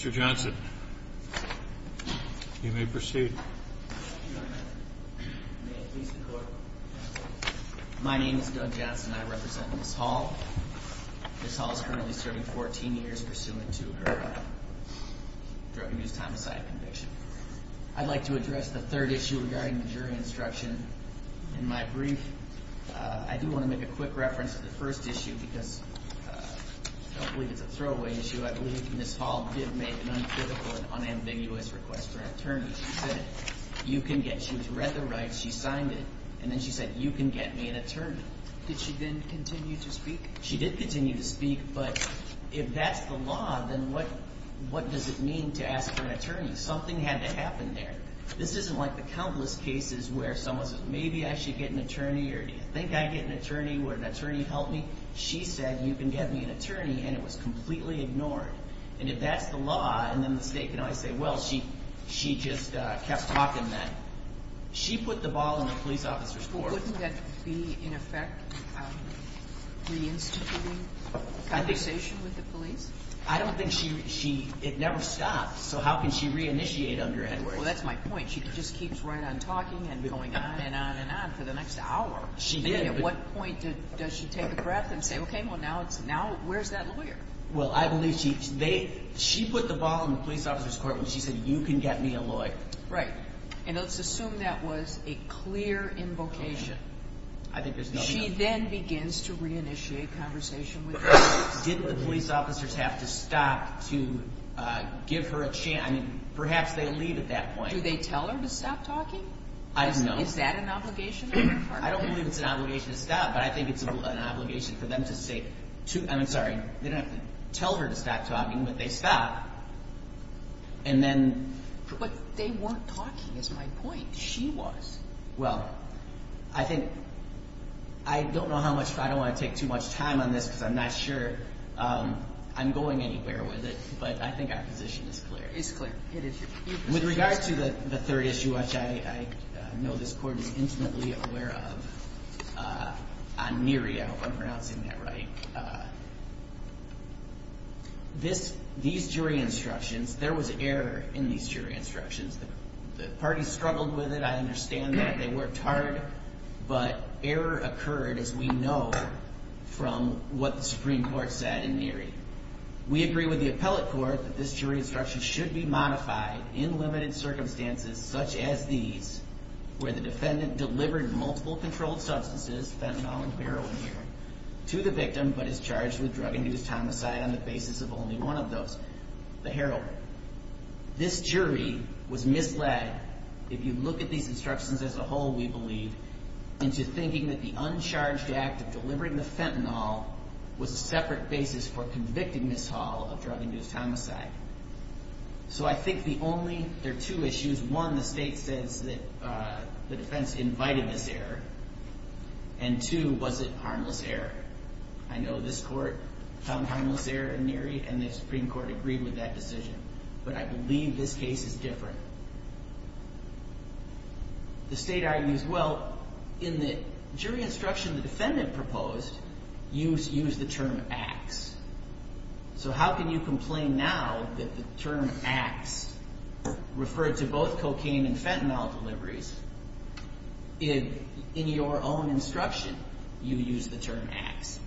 Mr. Johnson, you may proceed. My name is Doug Johnson. I represent Ms. Hall. Ms. Hall is currently serving 14 years pursuant to her drug abuse homicide conviction. I'd like to address the third issue regarding the jury instruction in my brief. I do want to make a quick reference to the first issue because I don't believe it's a throwaway issue. I believe Ms. Hall did make an uncritical and unambiguous request for an attorney. She said, you can get, she read the rights, she signed it, and then she said, you can get me an attorney. Did she then continue to speak? She did continue to speak, but if that's the law, then what does it mean to ask for an attorney? Something had to happen there. This isn't like the countless cases where someone says, maybe I should get an attorney, or do you think I'd get an attorney, would an attorney help me? She said, you can get me an attorney, and it was completely ignored. And if that's the law, and then the state can always say, well, she just kept talking then. She put the ball in the police officer's court. Wouldn't that be, in effect, reinstituting conversation with the police? I don't think she, it never stopped, so how can she reinitiate under Edwards? Well, that's my point. She just keeps right on talking and going on and on and on for the next hour. She did. I mean, at what point does she take a breath and say, okay, well, now where's that lawyer? Well, I believe she put the ball in the police officer's court when she said, you can get me a lawyer. Right, and let's assume that was a clear invocation. I think there's nothing else. She then begins to reinitiate conversation with the police. Didn't the police officers have to stop to give her a chance? I mean, perhaps they leave at that point. Do they tell her to stop talking? I don't know. Is that an obligation on their part? I don't believe it's an obligation to stop, but I think it's an obligation for them to say, I'm sorry, they don't have to tell her to stop talking, but they stop, and then. But they weren't talking is my point. She was. Well, I think, I don't know how much, I don't want to take too much time on this because I'm not sure I'm going anywhere with it, but I think our position is clear. It's clear. With regard to the third issue, which I know this court is intimately aware of, on Neary, I hope I'm pronouncing that right. These jury instructions, there was error in these jury instructions. The parties struggled with it. I understand that. They worked hard, but error occurred, as we know, from what the Supreme Court said in Neary. We agree with the appellate court that this jury instruction should be modified in limited circumstances, such as these, where the defendant delivered multiple controlled substances, fentanyl and heroin, to the victim, but is charged with drug and use homicide on the basis of only one of those, the heroin. This jury was misled, if you look at these instructions as a whole, we believe, into thinking that the uncharged act of delivering the fentanyl was a separate basis for convicting Ms. Hall of drug and use homicide. So I think the only, there are two issues. One, the state says that the defense invited this error, and two, was it harmless error? I know this court found harmless error in Neary, and the Supreme Court agreed with that decision, but I believe this case is different. The state argues, well, in the jury instruction the defendant proposed, you used the term acts. So how can you complain now that the term acts referred to both cocaine and fentanyl deliveries? In your own instruction, you used the term acts,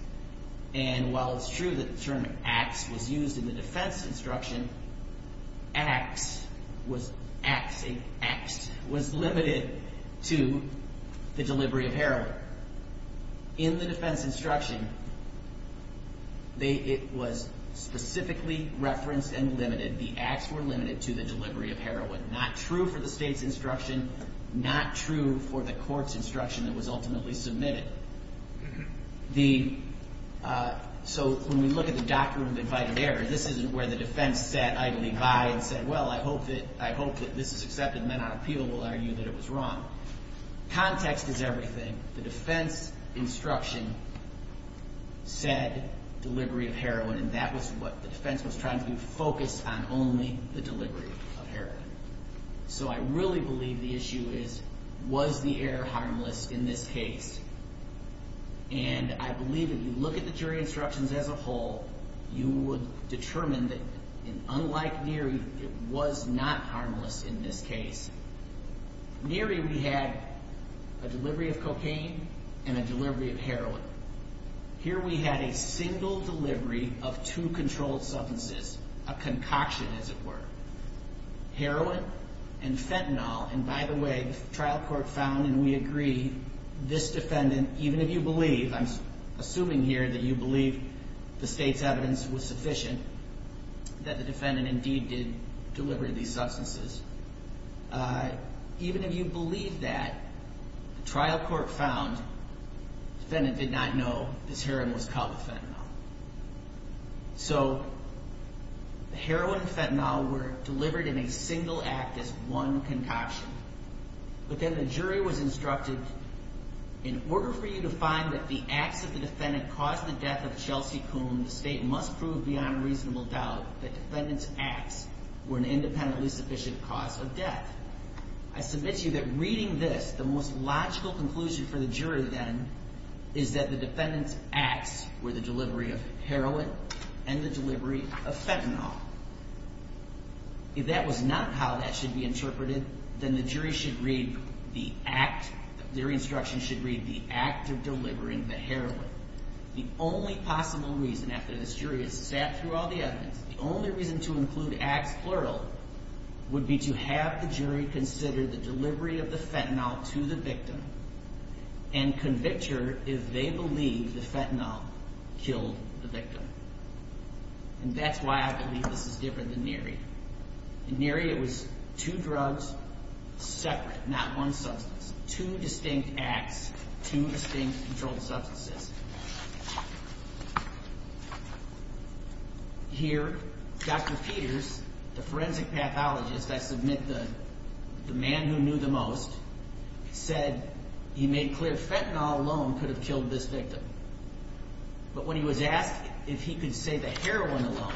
and while it's true that the term acts was used in the defense instruction, the term acts was limited to the delivery of heroin. In the defense instruction, it was specifically referenced and limited, the acts were limited to the delivery of heroin. Not true for the state's instruction, not true for the court's instruction that was ultimately submitted. So when we look at the doctrine of invited error, this isn't where the defense sat idly by and said, well, I hope that this is accepted, and then our appeal will argue that it was wrong. Context is everything. The defense instruction said delivery of heroin, and that was what the defense was trying to do, focus on only the delivery of heroin. So I really believe the issue is, was the error harmless in this case? And I believe if you look at the jury instructions as a whole, you would determine that, unlike Neary, it was not harmless in this case. Neary, we had a delivery of cocaine and a delivery of heroin. Here we had a single delivery of two controlled substances, a concoction as it were. Heroin and fentanyl, and by the way, the trial court found, and we agree, this defendant, even if you believe, I'm assuming here that you believe the state's evidence was sufficient, that the defendant indeed did deliver these substances. Even if you believe that, the trial court found the defendant did not know this heroin was called fentanyl. So the heroin and fentanyl were delivered in a single act as one concoction. But then the jury was instructed, in order for you to find that the acts of the defendant caused the death of Chelsea Coon, the state must prove beyond reasonable doubt that the defendant's acts were an independently sufficient cause of death. I submit to you that reading this, the most logical conclusion for the jury then is that the defendant's acts were the delivery of heroin and the delivery of fentanyl. If that was not how that should be interpreted, then the jury should read the act, their instructions should read the act of delivering the heroin. The only possible reason, after this jury has sat through all the evidence, the only reason to include acts plural would be to have the jury consider the delivery of the fentanyl to the victim and convict her if they believe the fentanyl killed the victim. And that's why I believe this is different than Neary. In Neary, it was two drugs separate, not one substance. Two distinct acts, two distinct controlled substances. Here, Dr. Peters, the forensic pathologist, I submit the man who knew the most, said he made clear fentanyl alone could have killed this victim. But when he was asked if he could say that heroin alone,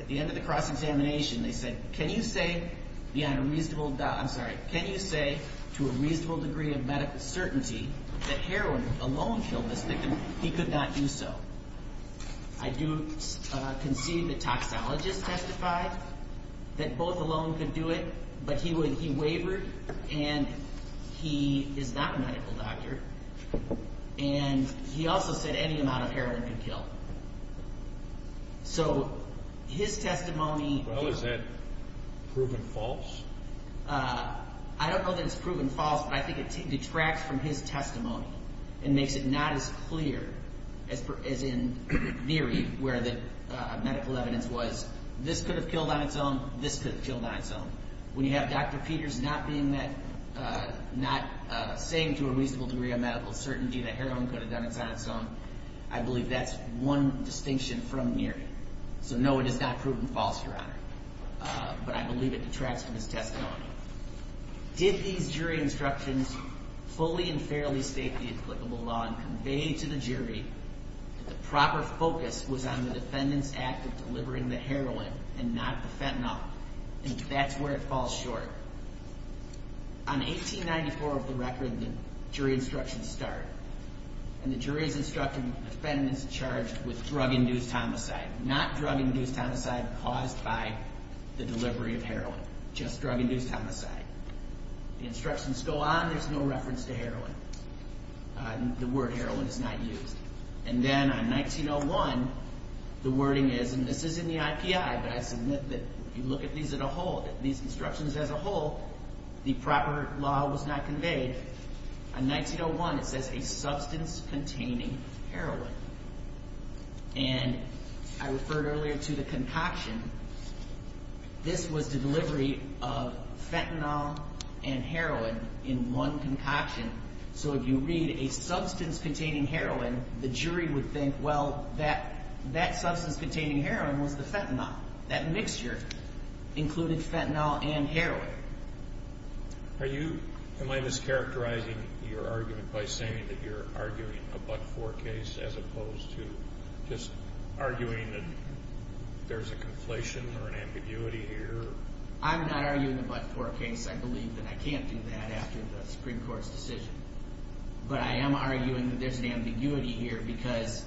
at the end of the cross-examination, they said, can you say beyond a reasonable doubt, I'm sorry, can you say to a reasonable degree of medical certainty that heroin alone killed this victim, he could not do so. I do concede that toxologists testified that both alone could do it, but he wavered and he is not a medical doctor. And he also said any amount of heroin could kill. So his testimony... Well, is that proven false? I don't know that it's proven false, but I think it detracts from his testimony and makes it not as clear as in Neary, where the medical evidence was, this could have killed on its own, this could have killed on its own. When you have Dr. Peters not saying to a reasonable degree of medical certainty that heroin could have done it on its own, I believe that's one distinction from Neary. So no, it is not proven false, Your Honor. But I believe it detracts from his testimony. Did these jury instructions fully and fairly state the applicable law and convey to the jury that the proper focus was on the defendant's act of delivering the heroin and not the fentanyl? I think that's where it falls short. On 1894 of the record, the jury instructions start, and the jury is instructing the defendant is charged with drug-induced homicide, not drug-induced homicide caused by the delivery of heroin, just drug-induced homicide. The instructions go on, there's no reference to heroin. The word heroin is not used. And then on 1901, the wording is, and this is in the IPI, but I submit that if you look at these as a whole, at these instructions as a whole, the proper law was not conveyed. On 1901, it says a substance-containing heroin. And I referred earlier to the concoction. This was the delivery of fentanyl and heroin in one concoction. So if you read a substance-containing heroin, the jury would think, well, that substance-containing heroin was the fentanyl. That mixture included fentanyl and heroin. Are you, am I mischaracterizing your argument by saying that you're arguing a but-for case as opposed to just arguing that there's a conflation or an ambiguity here? I'm not arguing a but-for case. I believe that I can't do that after the Supreme Court's decision. But I am arguing that there's an ambiguity here because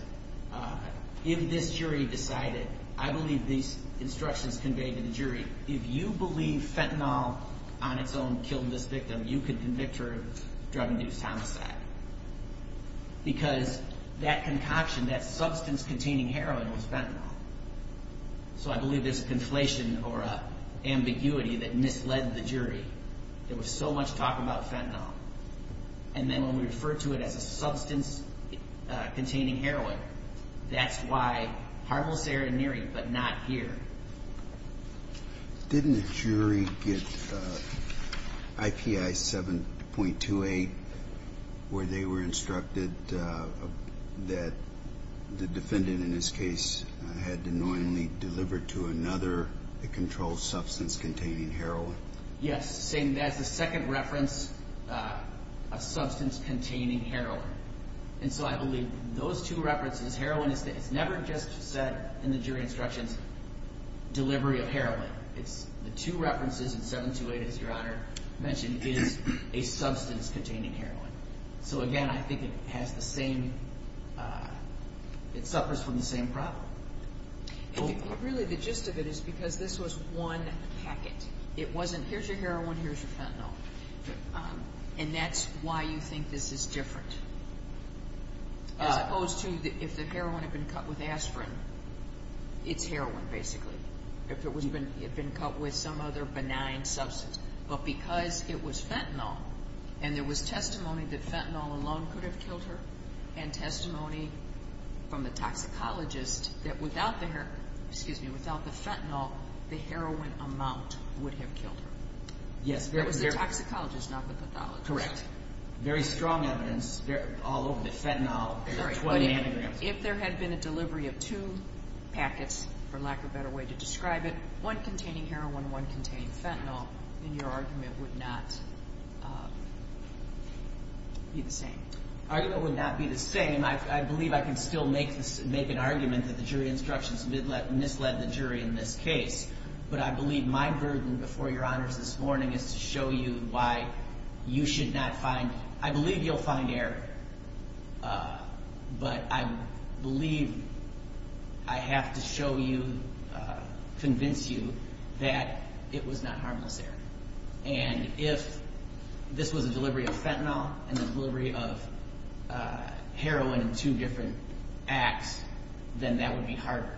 if this jury decided, I believe these instructions conveyed to the jury, if you believe fentanyl on its own killed this victim, you could convict her of drug-induced homicide. Because that concoction, that substance-containing heroin was fentanyl. So I believe there's a conflation or a ambiguity that misled the jury. There was so much talk about fentanyl. And then when we refer to it as a substance-containing heroin, that's why harmful serenity, but not here. Didn't the jury get IPI 7.28 where they were instructed that the defendant in this case had annoyingly delivered to another controlled substance-containing heroin? Yes, saying that's the second reference of substance-containing heroin. And so I believe those two references, heroin, it's never just said in the jury instructions, delivery of heroin. The two references in 7.28, as Your Honor mentioned, is a substance-containing heroin. So again, I think it has the same, it suffers from the same problem. Really, the gist of it is because this was one packet. It wasn't, here's your heroin, here's your fentanyl. And that's why you think this is different. As opposed to if the heroin had been cut with aspirin, it's heroin, basically. If it had been cut with some other benign substance. But because it was fentanyl, and there was testimony that fentanyl alone could have killed her, and testimony from the toxicologist that without the heroin, excuse me, without the fentanyl, the heroin amount would have killed her. Yes. It was the toxicologist, not the pathologist. Very strong evidence all over the fentanyl. If there had been a delivery of two packets, for lack of a better way to describe it, one containing heroin, one containing fentanyl, then your argument would not be the same. Argument would not be the same. And I believe I can still make an argument that the jury instructions misled the jury in this case. But I believe my burden before your honors this morning is to show you why you should not find, I believe you'll find error. But I believe I have to show you, convince you, that it was not harmless error. And if this was a delivery of fentanyl, and a delivery of heroin in two different acts, then that would be harder.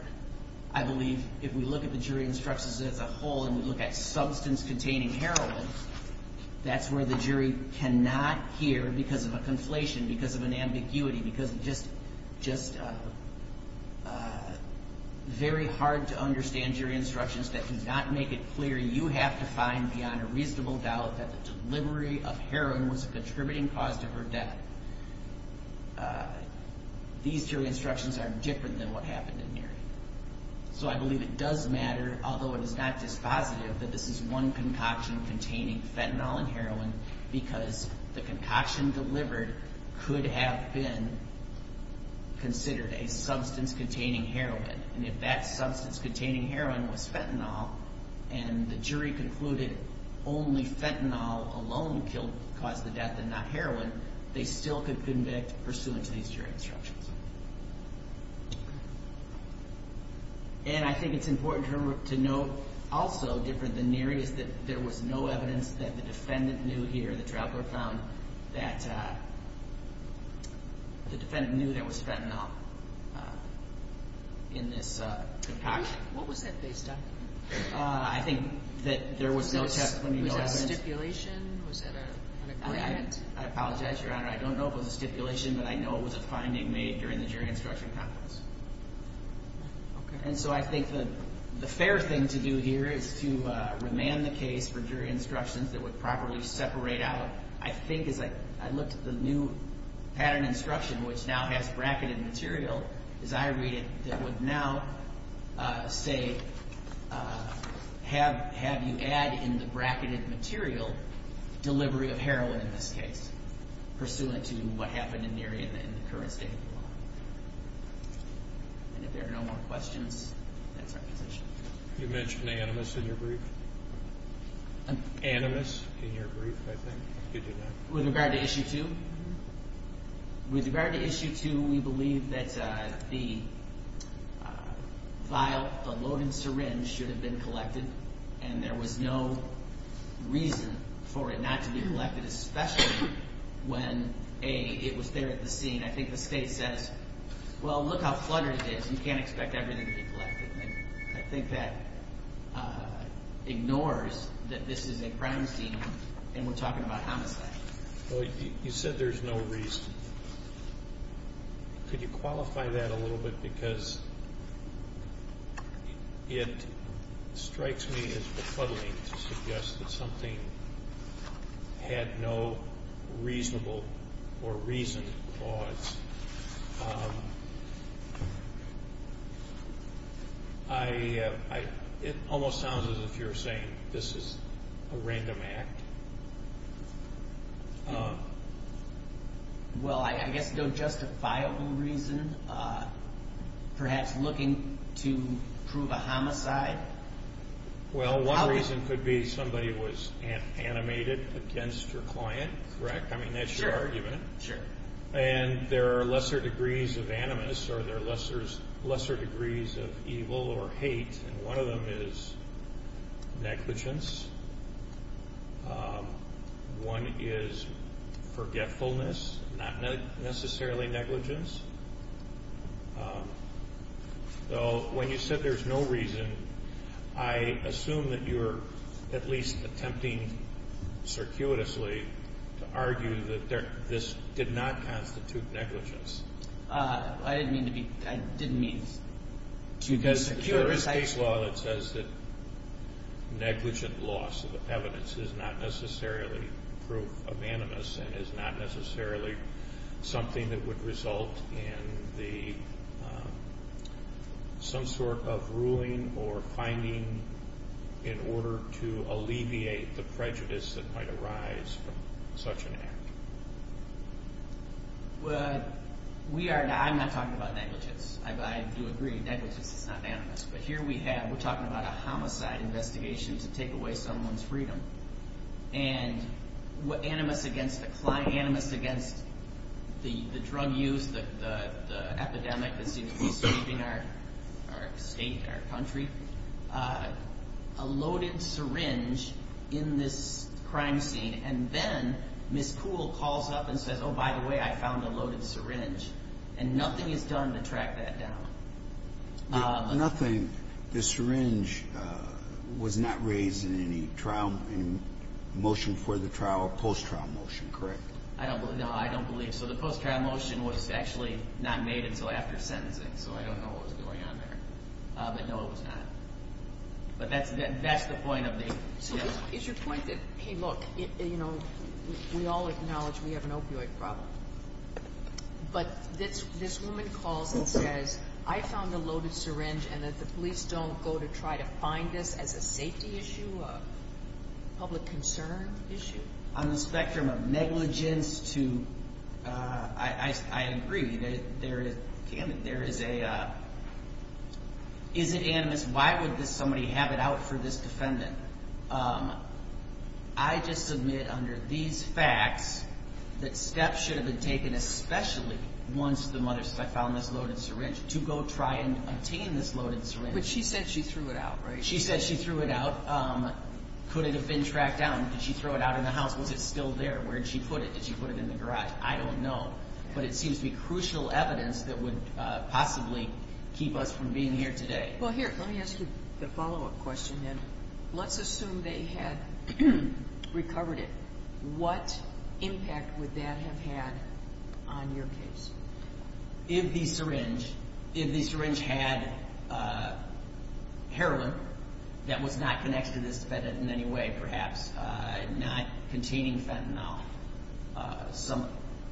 I believe if we look at the jury instructions as a whole, and we look at substance-containing heroin, that's where the jury cannot hear, because of a conflation, because of an ambiguity, because it's just very hard to understand jury instructions that do not make it clear. You have to find beyond a reasonable doubt that the delivery of heroin was a contributing cause to her death. These jury instructions are different than what happened in Neary. So I believe it does matter, although it is not just positive, that this is one concoction containing fentanyl and heroin, because the concoction delivered could have been considered a substance-containing heroin. And if that substance-containing heroin was fentanyl, and the jury concluded only fentanyl alone caused the death and not heroin, we still could convict pursuant to these jury instructions. And I think it's important to note also, different than Neary, is that there was no evidence that the defendant knew here, the traveler found, that the defendant knew there was fentanyl in this concoction. What was that based on? I think that there was no testimony of evidence. Was that a stipulation? Was that an agreement? I don't know if it was a stipulation, but I know it was a finding made during the jury instruction conference. And so I think the fair thing to do here is to remand the case for jury instructions that would properly separate out, I think, as I looked at the new pattern instruction, which now has bracketed material, as I read it, that would now say, have you add in the bracketed material, delivery of heroin in this case, pursuant to what happened in Neary in the current state of the law. And if there are no more questions, that's our position. You mentioned Animus in your brief. Animus, in your brief, I think, did you not? With regard to Issue 2, with regard to Issue 2, we believe that the vial, the loaded syringe, should have been collected, and there was no reason for it not to be collected, especially when, A, it was there at the scene. I think the state says, well, look how fluttered it is. You can't expect everything to be collected. I think that ignores that this is a crime scene, and we're talking about homicide. You said there's no reason. Could you qualify that a little bit? Because it strikes me as befuddling to suggest that something had no reasonable or reasoned cause. It almost sounds as if you're saying this is a random act. Well, I guess no justifiable reason, perhaps looking to prove a homicide. Well, one reason could be somebody was animated against your client, correct? I mean, that's your argument. And there are lesser degrees of Animus, or there are lesser degrees of evil or hate, and one of them is negligence. One is forgetfulness, not necessarily negligence. So when you said there's no reason, I assume that you're at least attempting circuitously to argue that this did not constitute negligence. I didn't mean to be... I didn't mean to be circuitous. Because there is state law that says that negligent loss of evidence is not necessarily proof of Animus, and is not necessarily something that would result in some sort of ruling or finding in order to alleviate the prejudice that might arise from such an act. Well, we are... I'm not talking about negligence. I do agree, negligence is not Animus. But here we have... we're talking about a homicide investigation to take away someone's freedom. And Animus against the drug use, the epidemic that seems to be sweeping our state, our country, a loaded syringe in this crime scene, and then Ms. Kuhl calls up and says, oh, by the way, I found a loaded syringe, and nothing is done to track that down. Nothing... the syringe was not raised in any trial... motion for the trial, post-trial motion, correct? I don't believe... no, I don't believe... so the post-trial motion was actually not made until after sentencing, so I don't know what was going on there. But no, it was not. But that's the point of the... So is your point that, hey, look, you know, we all acknowledge we have an opioid problem. But this woman calls and says, I found a loaded syringe, and that the police don't go to try to find this as a safety issue, a public concern issue? On the spectrum of negligence to... I agree. There is a... is it Animus? Why would somebody have it out for this defendant? I just submit under these facts that steps should have been taken, especially once the mother said, I found this loaded syringe, to go try and obtain this loaded syringe. But she said she threw it out, right? She said she threw it out. Could it have been tracked down? Did she throw it out in the house? Was it still there? Where did she put it? Did she put it in the garage? I don't know. But it seems to be crucial evidence that would possibly keep us from being here today. Well, here, let me ask you the follow-up question then. Let's assume they had recovered it. What impact would that have had on your case? If the syringe... if the syringe had heroin that was not connected to this defendant in any way, perhaps, not containing fentanyl, some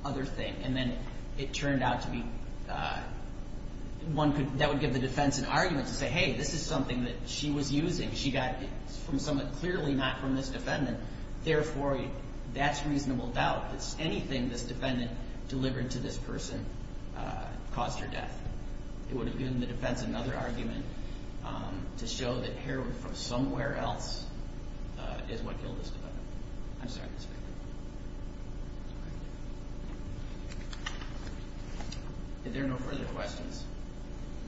other thing, and then it turned out to be... one could... that would give the defense an argument to say, hey, this is something that she was using. She got it from someone clearly not from this defendant. Therefore, that's reasonable doubt that anything this defendant delivered to this person caused her death. It would have given the defense another argument to show that heroin from somewhere else is what killed this defendant. I'm sorry, Mr. Baker. Are there no further questions?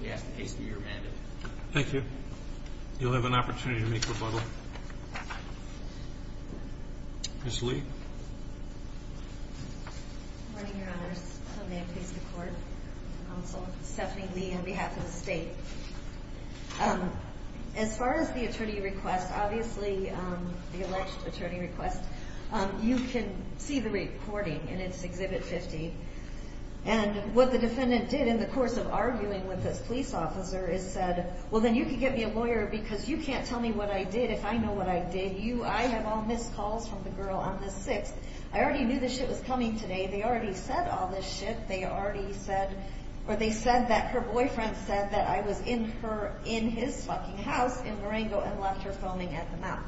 We ask the case to be remanded. Thank you. You'll have an opportunity to make rebuttal. Ms. Lee. Good morning, Your Honors. May it please the Court, Counsel, Stephanie Lee on behalf of the State. As far as the attorney request, obviously, the alleged attorney request, you can see the recording in its Exhibit 50. And what the defendant did in the course of arguing with this police officer is said, well, then you can get me a lawyer because you can't tell me what I did if I know what I did. You, I have all missed calls from the girl on the 6th. I already knew this shit was coming today. They already said all this shit. They already said, or they said that her boyfriend said that I was in her, in his fucking house in Marengo and left her foaming at the mouth.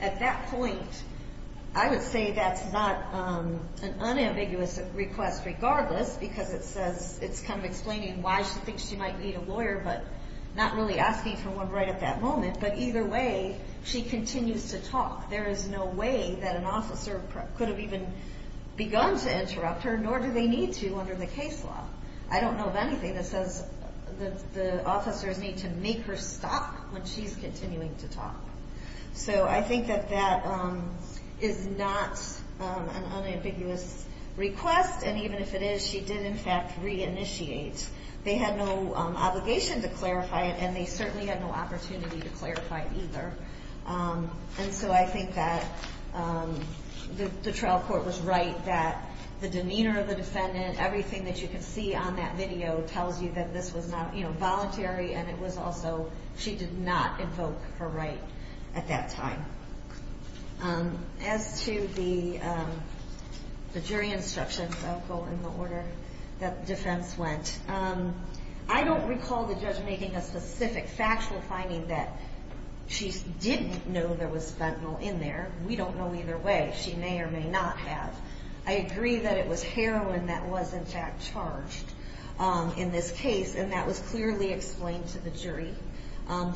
At that point, I would say that's not an unambiguous request regardless because it says, it's kind of explaining why she thinks she might need a lawyer but not really asking for one right at that moment. But either way, she continues to talk. There is no way that an officer could have even begun to interrupt her, nor do they need to under the case law. I don't know of anything that says that the officers need to make her stop when she's continuing to talk. So I think that that is not an unambiguous request. And even if it is, she did, in fact, reinitiate. They had no obligation to clarify it and they certainly had no opportunity to clarify it either. And so I think that the trial court was right that the demeanor of the defendant, everything that you can see on that video tells you that this was not, you know, voluntary. And it was also, she did not invoke her right at that time. As to the jury instructions, I'll go in the order that defense went. I don't recall the judge making a specific factual finding that she didn't know there was fentanyl in there. We don't know either way. She may or may not have. I agree that it was heroin that was, in fact, charged in this case. And that was clearly explained to the jury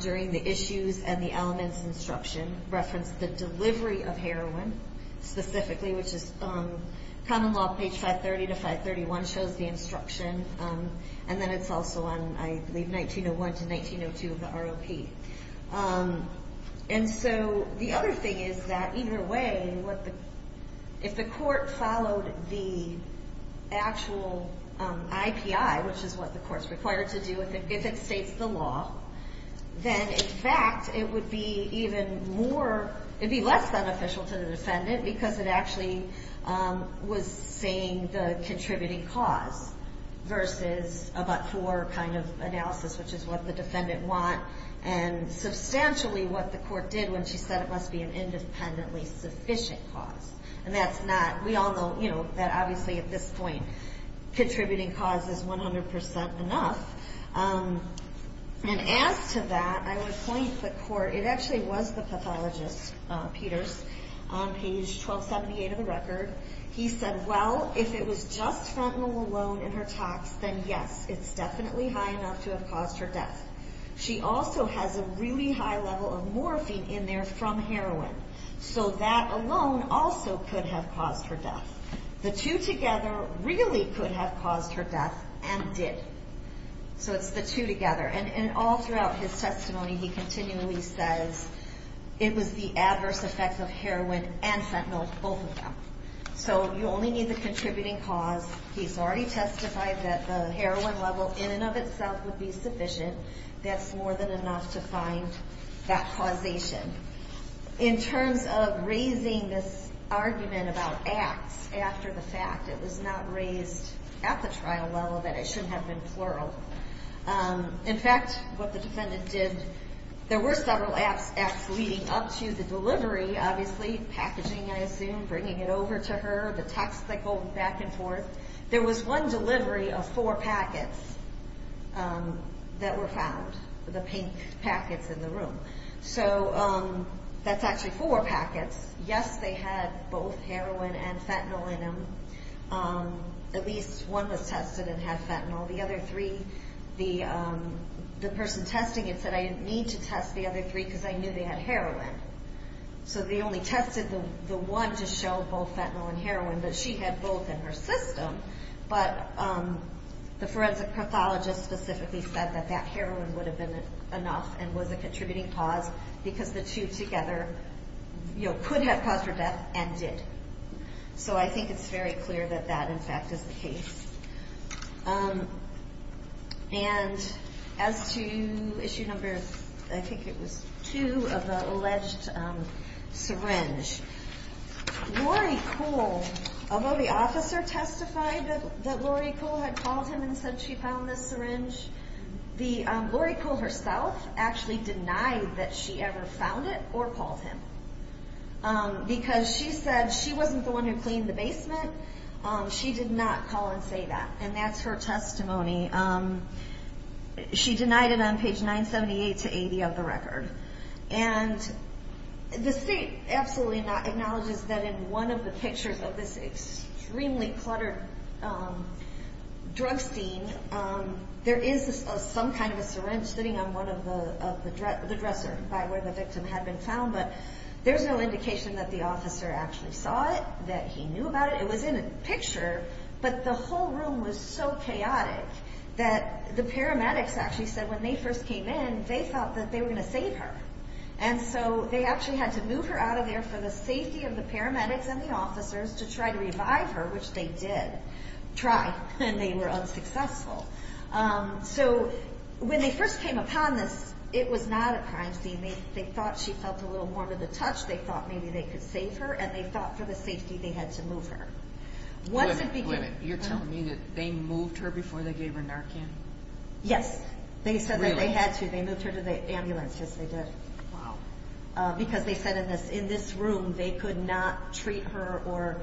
during the issues and the elements instruction, referenced the delivery of heroin specifically, which is common law page 530 to 531 shows the instruction. And then it's also on, I believe, 1901 to 1902 of the ROP. And so the other thing is that either way, if the court followed the actual IPI, which is what the court's required to do if it states the law, then in fact it would be even more, it'd be less beneficial to the defendant because it actually was saying the contributing cause versus a but-for kind of analysis, which is what the defendant want and substantially what the court did when she said it must be an independently sufficient cause. And that's not, we all know, you know, that obviously at this point, contributing cause is 100% enough. And as to that, I would point the court, it actually was the pathologist, Peters, on page 1278 of the record. He said, well, if it was just fentanyl alone in her tox, then yes, it's definitely high enough to have caused her death. She also has a really high level of morphine in there from heroin. So that alone also could have caused her death. The two together really could have caused her death and did. So it's the two together. And all throughout his testimony, he continually says it was the adverse effects of heroin and fentanyl, both of them. So you only need the contributing cause. He's already testified that the heroin level in and of itself would be sufficient. That's more than enough to find that causation. In terms of raising this argument about acts after the fact, it was not raised at the trial level that it shouldn't have been plural. In fact, what the defendant did, there were several acts leading up to the delivery, obviously packaging, I assume, bringing it over to her, the text they pulled back and forth. There was one delivery of four packets that were found, the pink packets in the room. So that's actually four packets. Yes, they had both heroin and fentanyl in them. At least one was tested and had fentanyl. The other three, the person testing it said, I didn't need to test the other three because I knew they had heroin. So they only tested the one to show both fentanyl and heroin, but she had both in her system. But the forensic pathologist specifically said that that heroin would have been enough and was a contributing cause because the two together could have caused her death and did. So I think it's very clear that that, in fact, is the case. And as to issue number, I think it was two of the alleged syringe, Lori Cole, although the officer testified that Lori Cole had called him and said she found this syringe, Lori Cole herself actually denied that she ever found it or called him because she said she wasn't the one who cleaned the basement. She did not call and say that. And that's her testimony. She denied it on page 978 to 80 of the record. And the state absolutely acknowledges that in one of the pictures of this extremely cluttered drug scene, there is some kind of a syringe sitting on one of the dressers by where the victim had been found. But there's no indication that the officer actually saw it, that he knew about it. It was in a picture, but the whole room was so chaotic that the paramedics actually said when they first came in, they thought that they were going to save her. And so they actually had to move her out of there for the safety of the paramedics and the officers to try to revive her, which they did try, and they were unsuccessful. So when they first came upon this, it was not a crime scene. They thought she felt a little more to the touch. They thought maybe they could save her. And they thought for the safety, they had to move her. Women, women, you're telling me that they moved her before they gave her Narcan? Yes, they said that they had to. They moved her to the ambulance, yes, they did. Wow. Because they said in this room, they could not treat her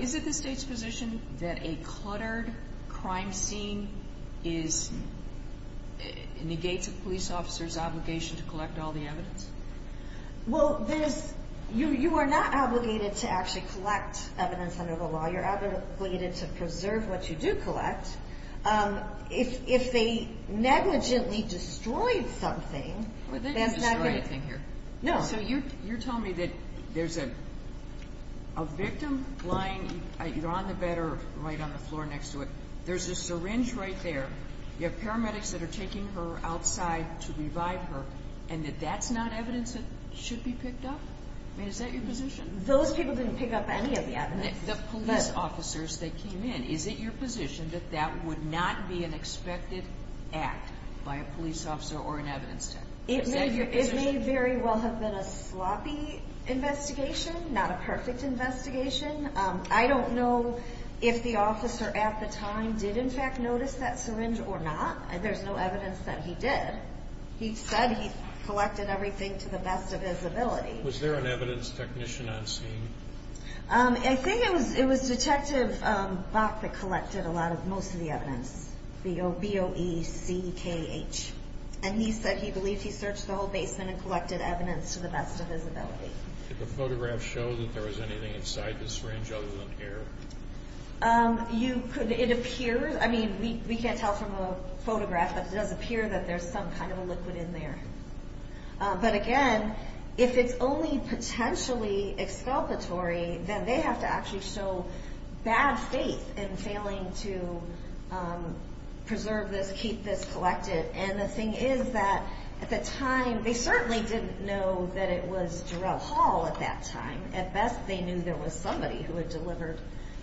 Is it the state's position that a cluttered crime scene negates a police officer's obligation to collect all the evidence? Well, you are not obligated to actually collect evidence under the law. You're obligated to preserve what you do collect. If they negligently destroyed something, that's not good. They didn't destroy anything here. No, so you're telling me that there's a victim lying either on the bed or right on the floor next to it. There's a syringe right there. You have paramedics that are taking her outside to revive her, and that that's not evidence that should be picked up? I mean, is that your position? Those people didn't pick up any of the evidence. The police officers that came in. Is it your position that that would not be an expected act by a police officer or an evidence tech? It may very well have been a sloppy investigation, not a perfect investigation. I don't know if the officer at the time did in fact notice that syringe or not. There's no evidence that he did. He said he collected everything to the best of his ability. Was there an evidence technician on scene? I think it was Detective Bach that collected most of the evidence. B-O-E-C-K-H. And he said he believed he searched the whole basement and collected evidence to the best of his ability. Did the photograph show that there was anything inside the syringe other than air? It appears. I mean, we can't tell from a photograph, but it does appear that there's some kind of a liquid in there. But again, if it's only potentially exculpatory, then they have to actually show bad faith in failing to preserve this, keep this collected, because the thing is that at the time, they certainly didn't know that it was Darrell Hall at that time. At best, they knew there was somebody who had delivered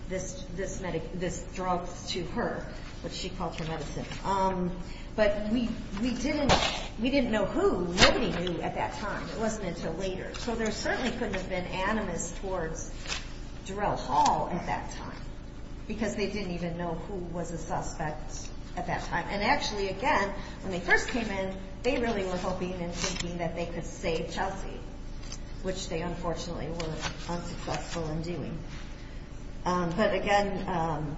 this drug to her, which she called her medicine. But we didn't know who. Nobody knew at that time. It wasn't until later. So there certainly couldn't have been animus towards Darrell Hall at that time, because they didn't even know who was a suspect at that time. And actually, again, when they first came in, they really were hoping and thinking that they could save Chelsea, which they unfortunately were unsuccessful in doing. But again,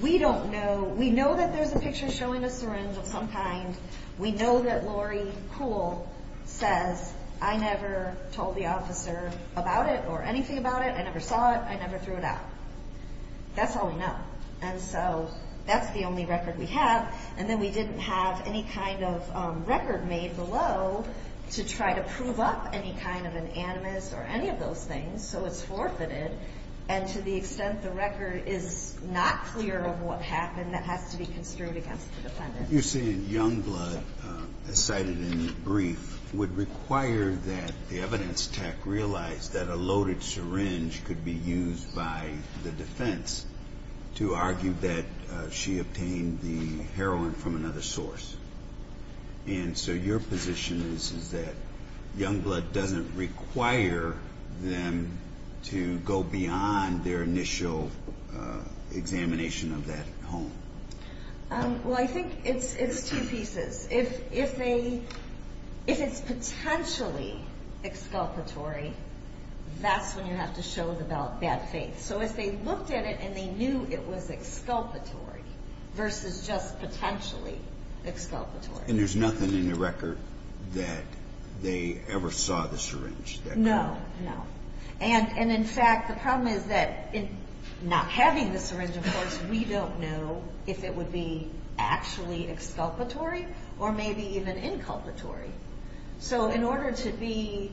we don't know. We know that there's a picture showing a syringe of some kind. We know that Lori Kuhl says, I never told the officer about it or anything about it. I never saw it. I never threw it out. That's all we know. And so that's the only record we have. And then we didn't have any kind of record made below to try to prove up any kind of an animus or any of those things. So it's forfeited. And to the extent the record is not clear of what happened, that has to be construed against the defendant. You're saying Youngblood, as cited in the brief, would require that the evidence tech realize that a loaded syringe could be used by the defense to argue that she obtained the heroin from another source. And so your position is that Youngblood doesn't require them to go beyond their initial examination of that home. Well, I think it's two pieces. If it's potentially exculpatory, that's when you have to show the bad faith. So if they looked at it and they knew it was exculpatory versus just potentially exculpatory. And there's nothing in the record that they ever saw the syringe? No, no. And in fact, the problem is that not having the syringe, of course, we don't know if it would be actually exculpatory or maybe even inculpatory. So in order to be,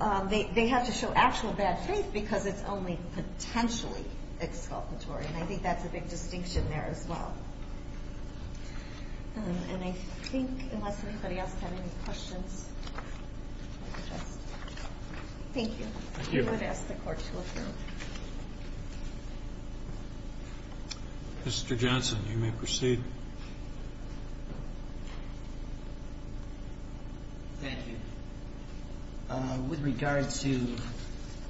they have to show actual bad faith because it's only potentially exculpatory. And I think that's a big distinction there as well. And I think unless anybody else has any questions. Thank you. Thank you. I would ask the court to approve. Mr. Johnson, you may proceed. Thank you. With regard to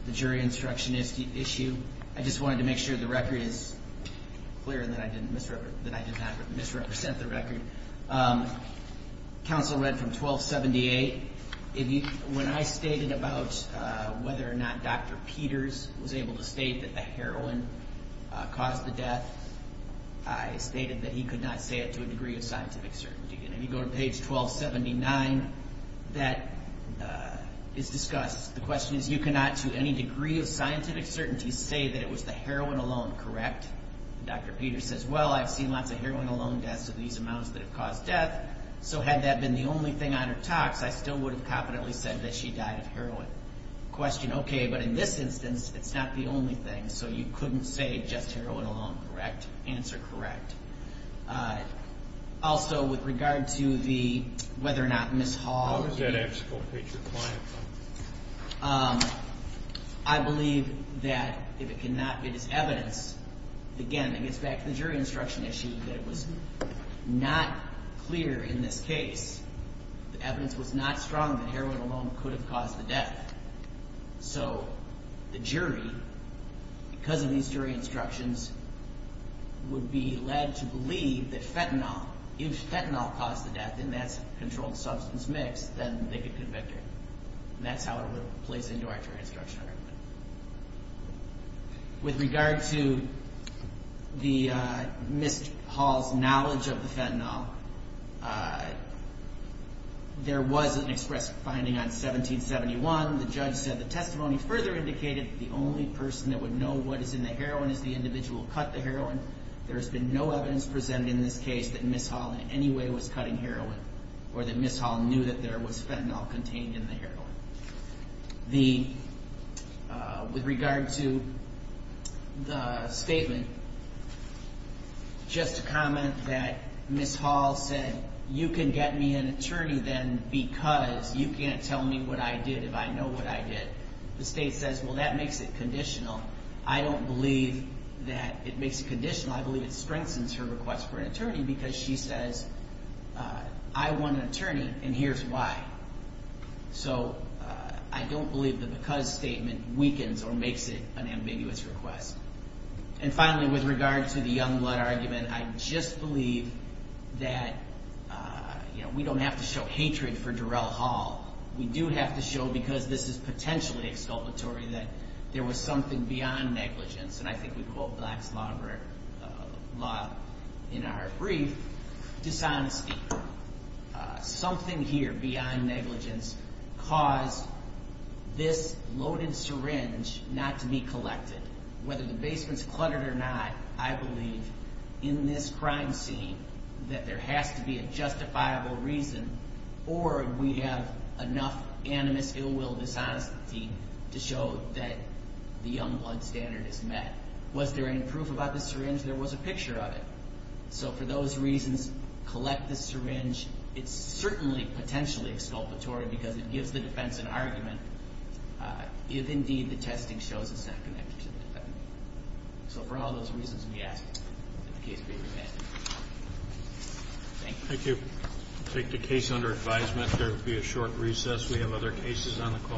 the jury instruction issue, I just wanted to make sure the record is clear and that I did not misrepresent the record. Counsel read from 1278. When I stated about whether or not Dr. Peters was able to state that the heroin caused the death, I stated that he could not say it to a degree of scientific certainty. And if you go to page 1279, that is discussed. The question is, you cannot to any degree of scientific certainty say that it was the heroin alone, correct? Dr. Peters says, well, I've seen lots of heroin alone deaths of these amounts that have caused death. So had that been the only thing on her tox, I still would have confidently said that she died of heroin. Question, okay, but in this instance, it's not the only thing. So you couldn't say just heroin alone, correct? Answer, correct. Also with regard to the, whether or not Ms. Hall... How is that abstract? I believe that if it cannot, it is evidence. Again, it gets back to the jury instruction issue that it was not clear in this case. The evidence was not strong that heroin alone could have caused the death. So the jury, because of these jury instructions, would be led to believe that fentanyl, if fentanyl caused the death, and that's a controlled substance mix, then they could convict her. And that's how it plays into our jury instruction argument. With regard to Ms. Hall's knowledge of the fentanyl, there was an express finding on 1771. The judge said the testimony further indicated that the only person that would know what is in the heroin is the individual who cut the heroin. There has been no evidence presented in this case that Ms. Hall in any way was cutting heroin, or that Ms. Hall knew that there was fentanyl contained in the heroin. With regard to the statement, just a comment that Ms. Hall said, you can get me an attorney then because you can't tell me what I did if I know what I did. The state says, well, that makes it conditional. I don't believe that it makes it conditional. I believe it strengthens her request for an attorney because she says, I want an attorney and here's why. So I don't believe the because statement weakens or makes it an ambiguous request. And finally, with regard to the young blood argument, I just believe that we don't have to show hatred for Durell Hall. We do have to show, because this is potentially exculpatory, beyond negligence. And I think we quote Black's Law in our brief, dishonesty. Something here beyond negligence caused this loaded syringe not to be collected. Whether the basement's cluttered or not, I believe in this crime scene that there has to be a justifiable reason or we have enough animus, ill will, dishonesty to show that the young blood standard is met. Was there any proof about the syringe? There was a picture of it. So for those reasons, collect the syringe. It's certainly potentially exculpatory because it gives the defense an argument if indeed the testing shows it's not connected to the defendant. So for all those reasons we ask that the case be remanded. Thank you. Thank you. Take the case under advisement. There will be a short recess. We have other cases on the call.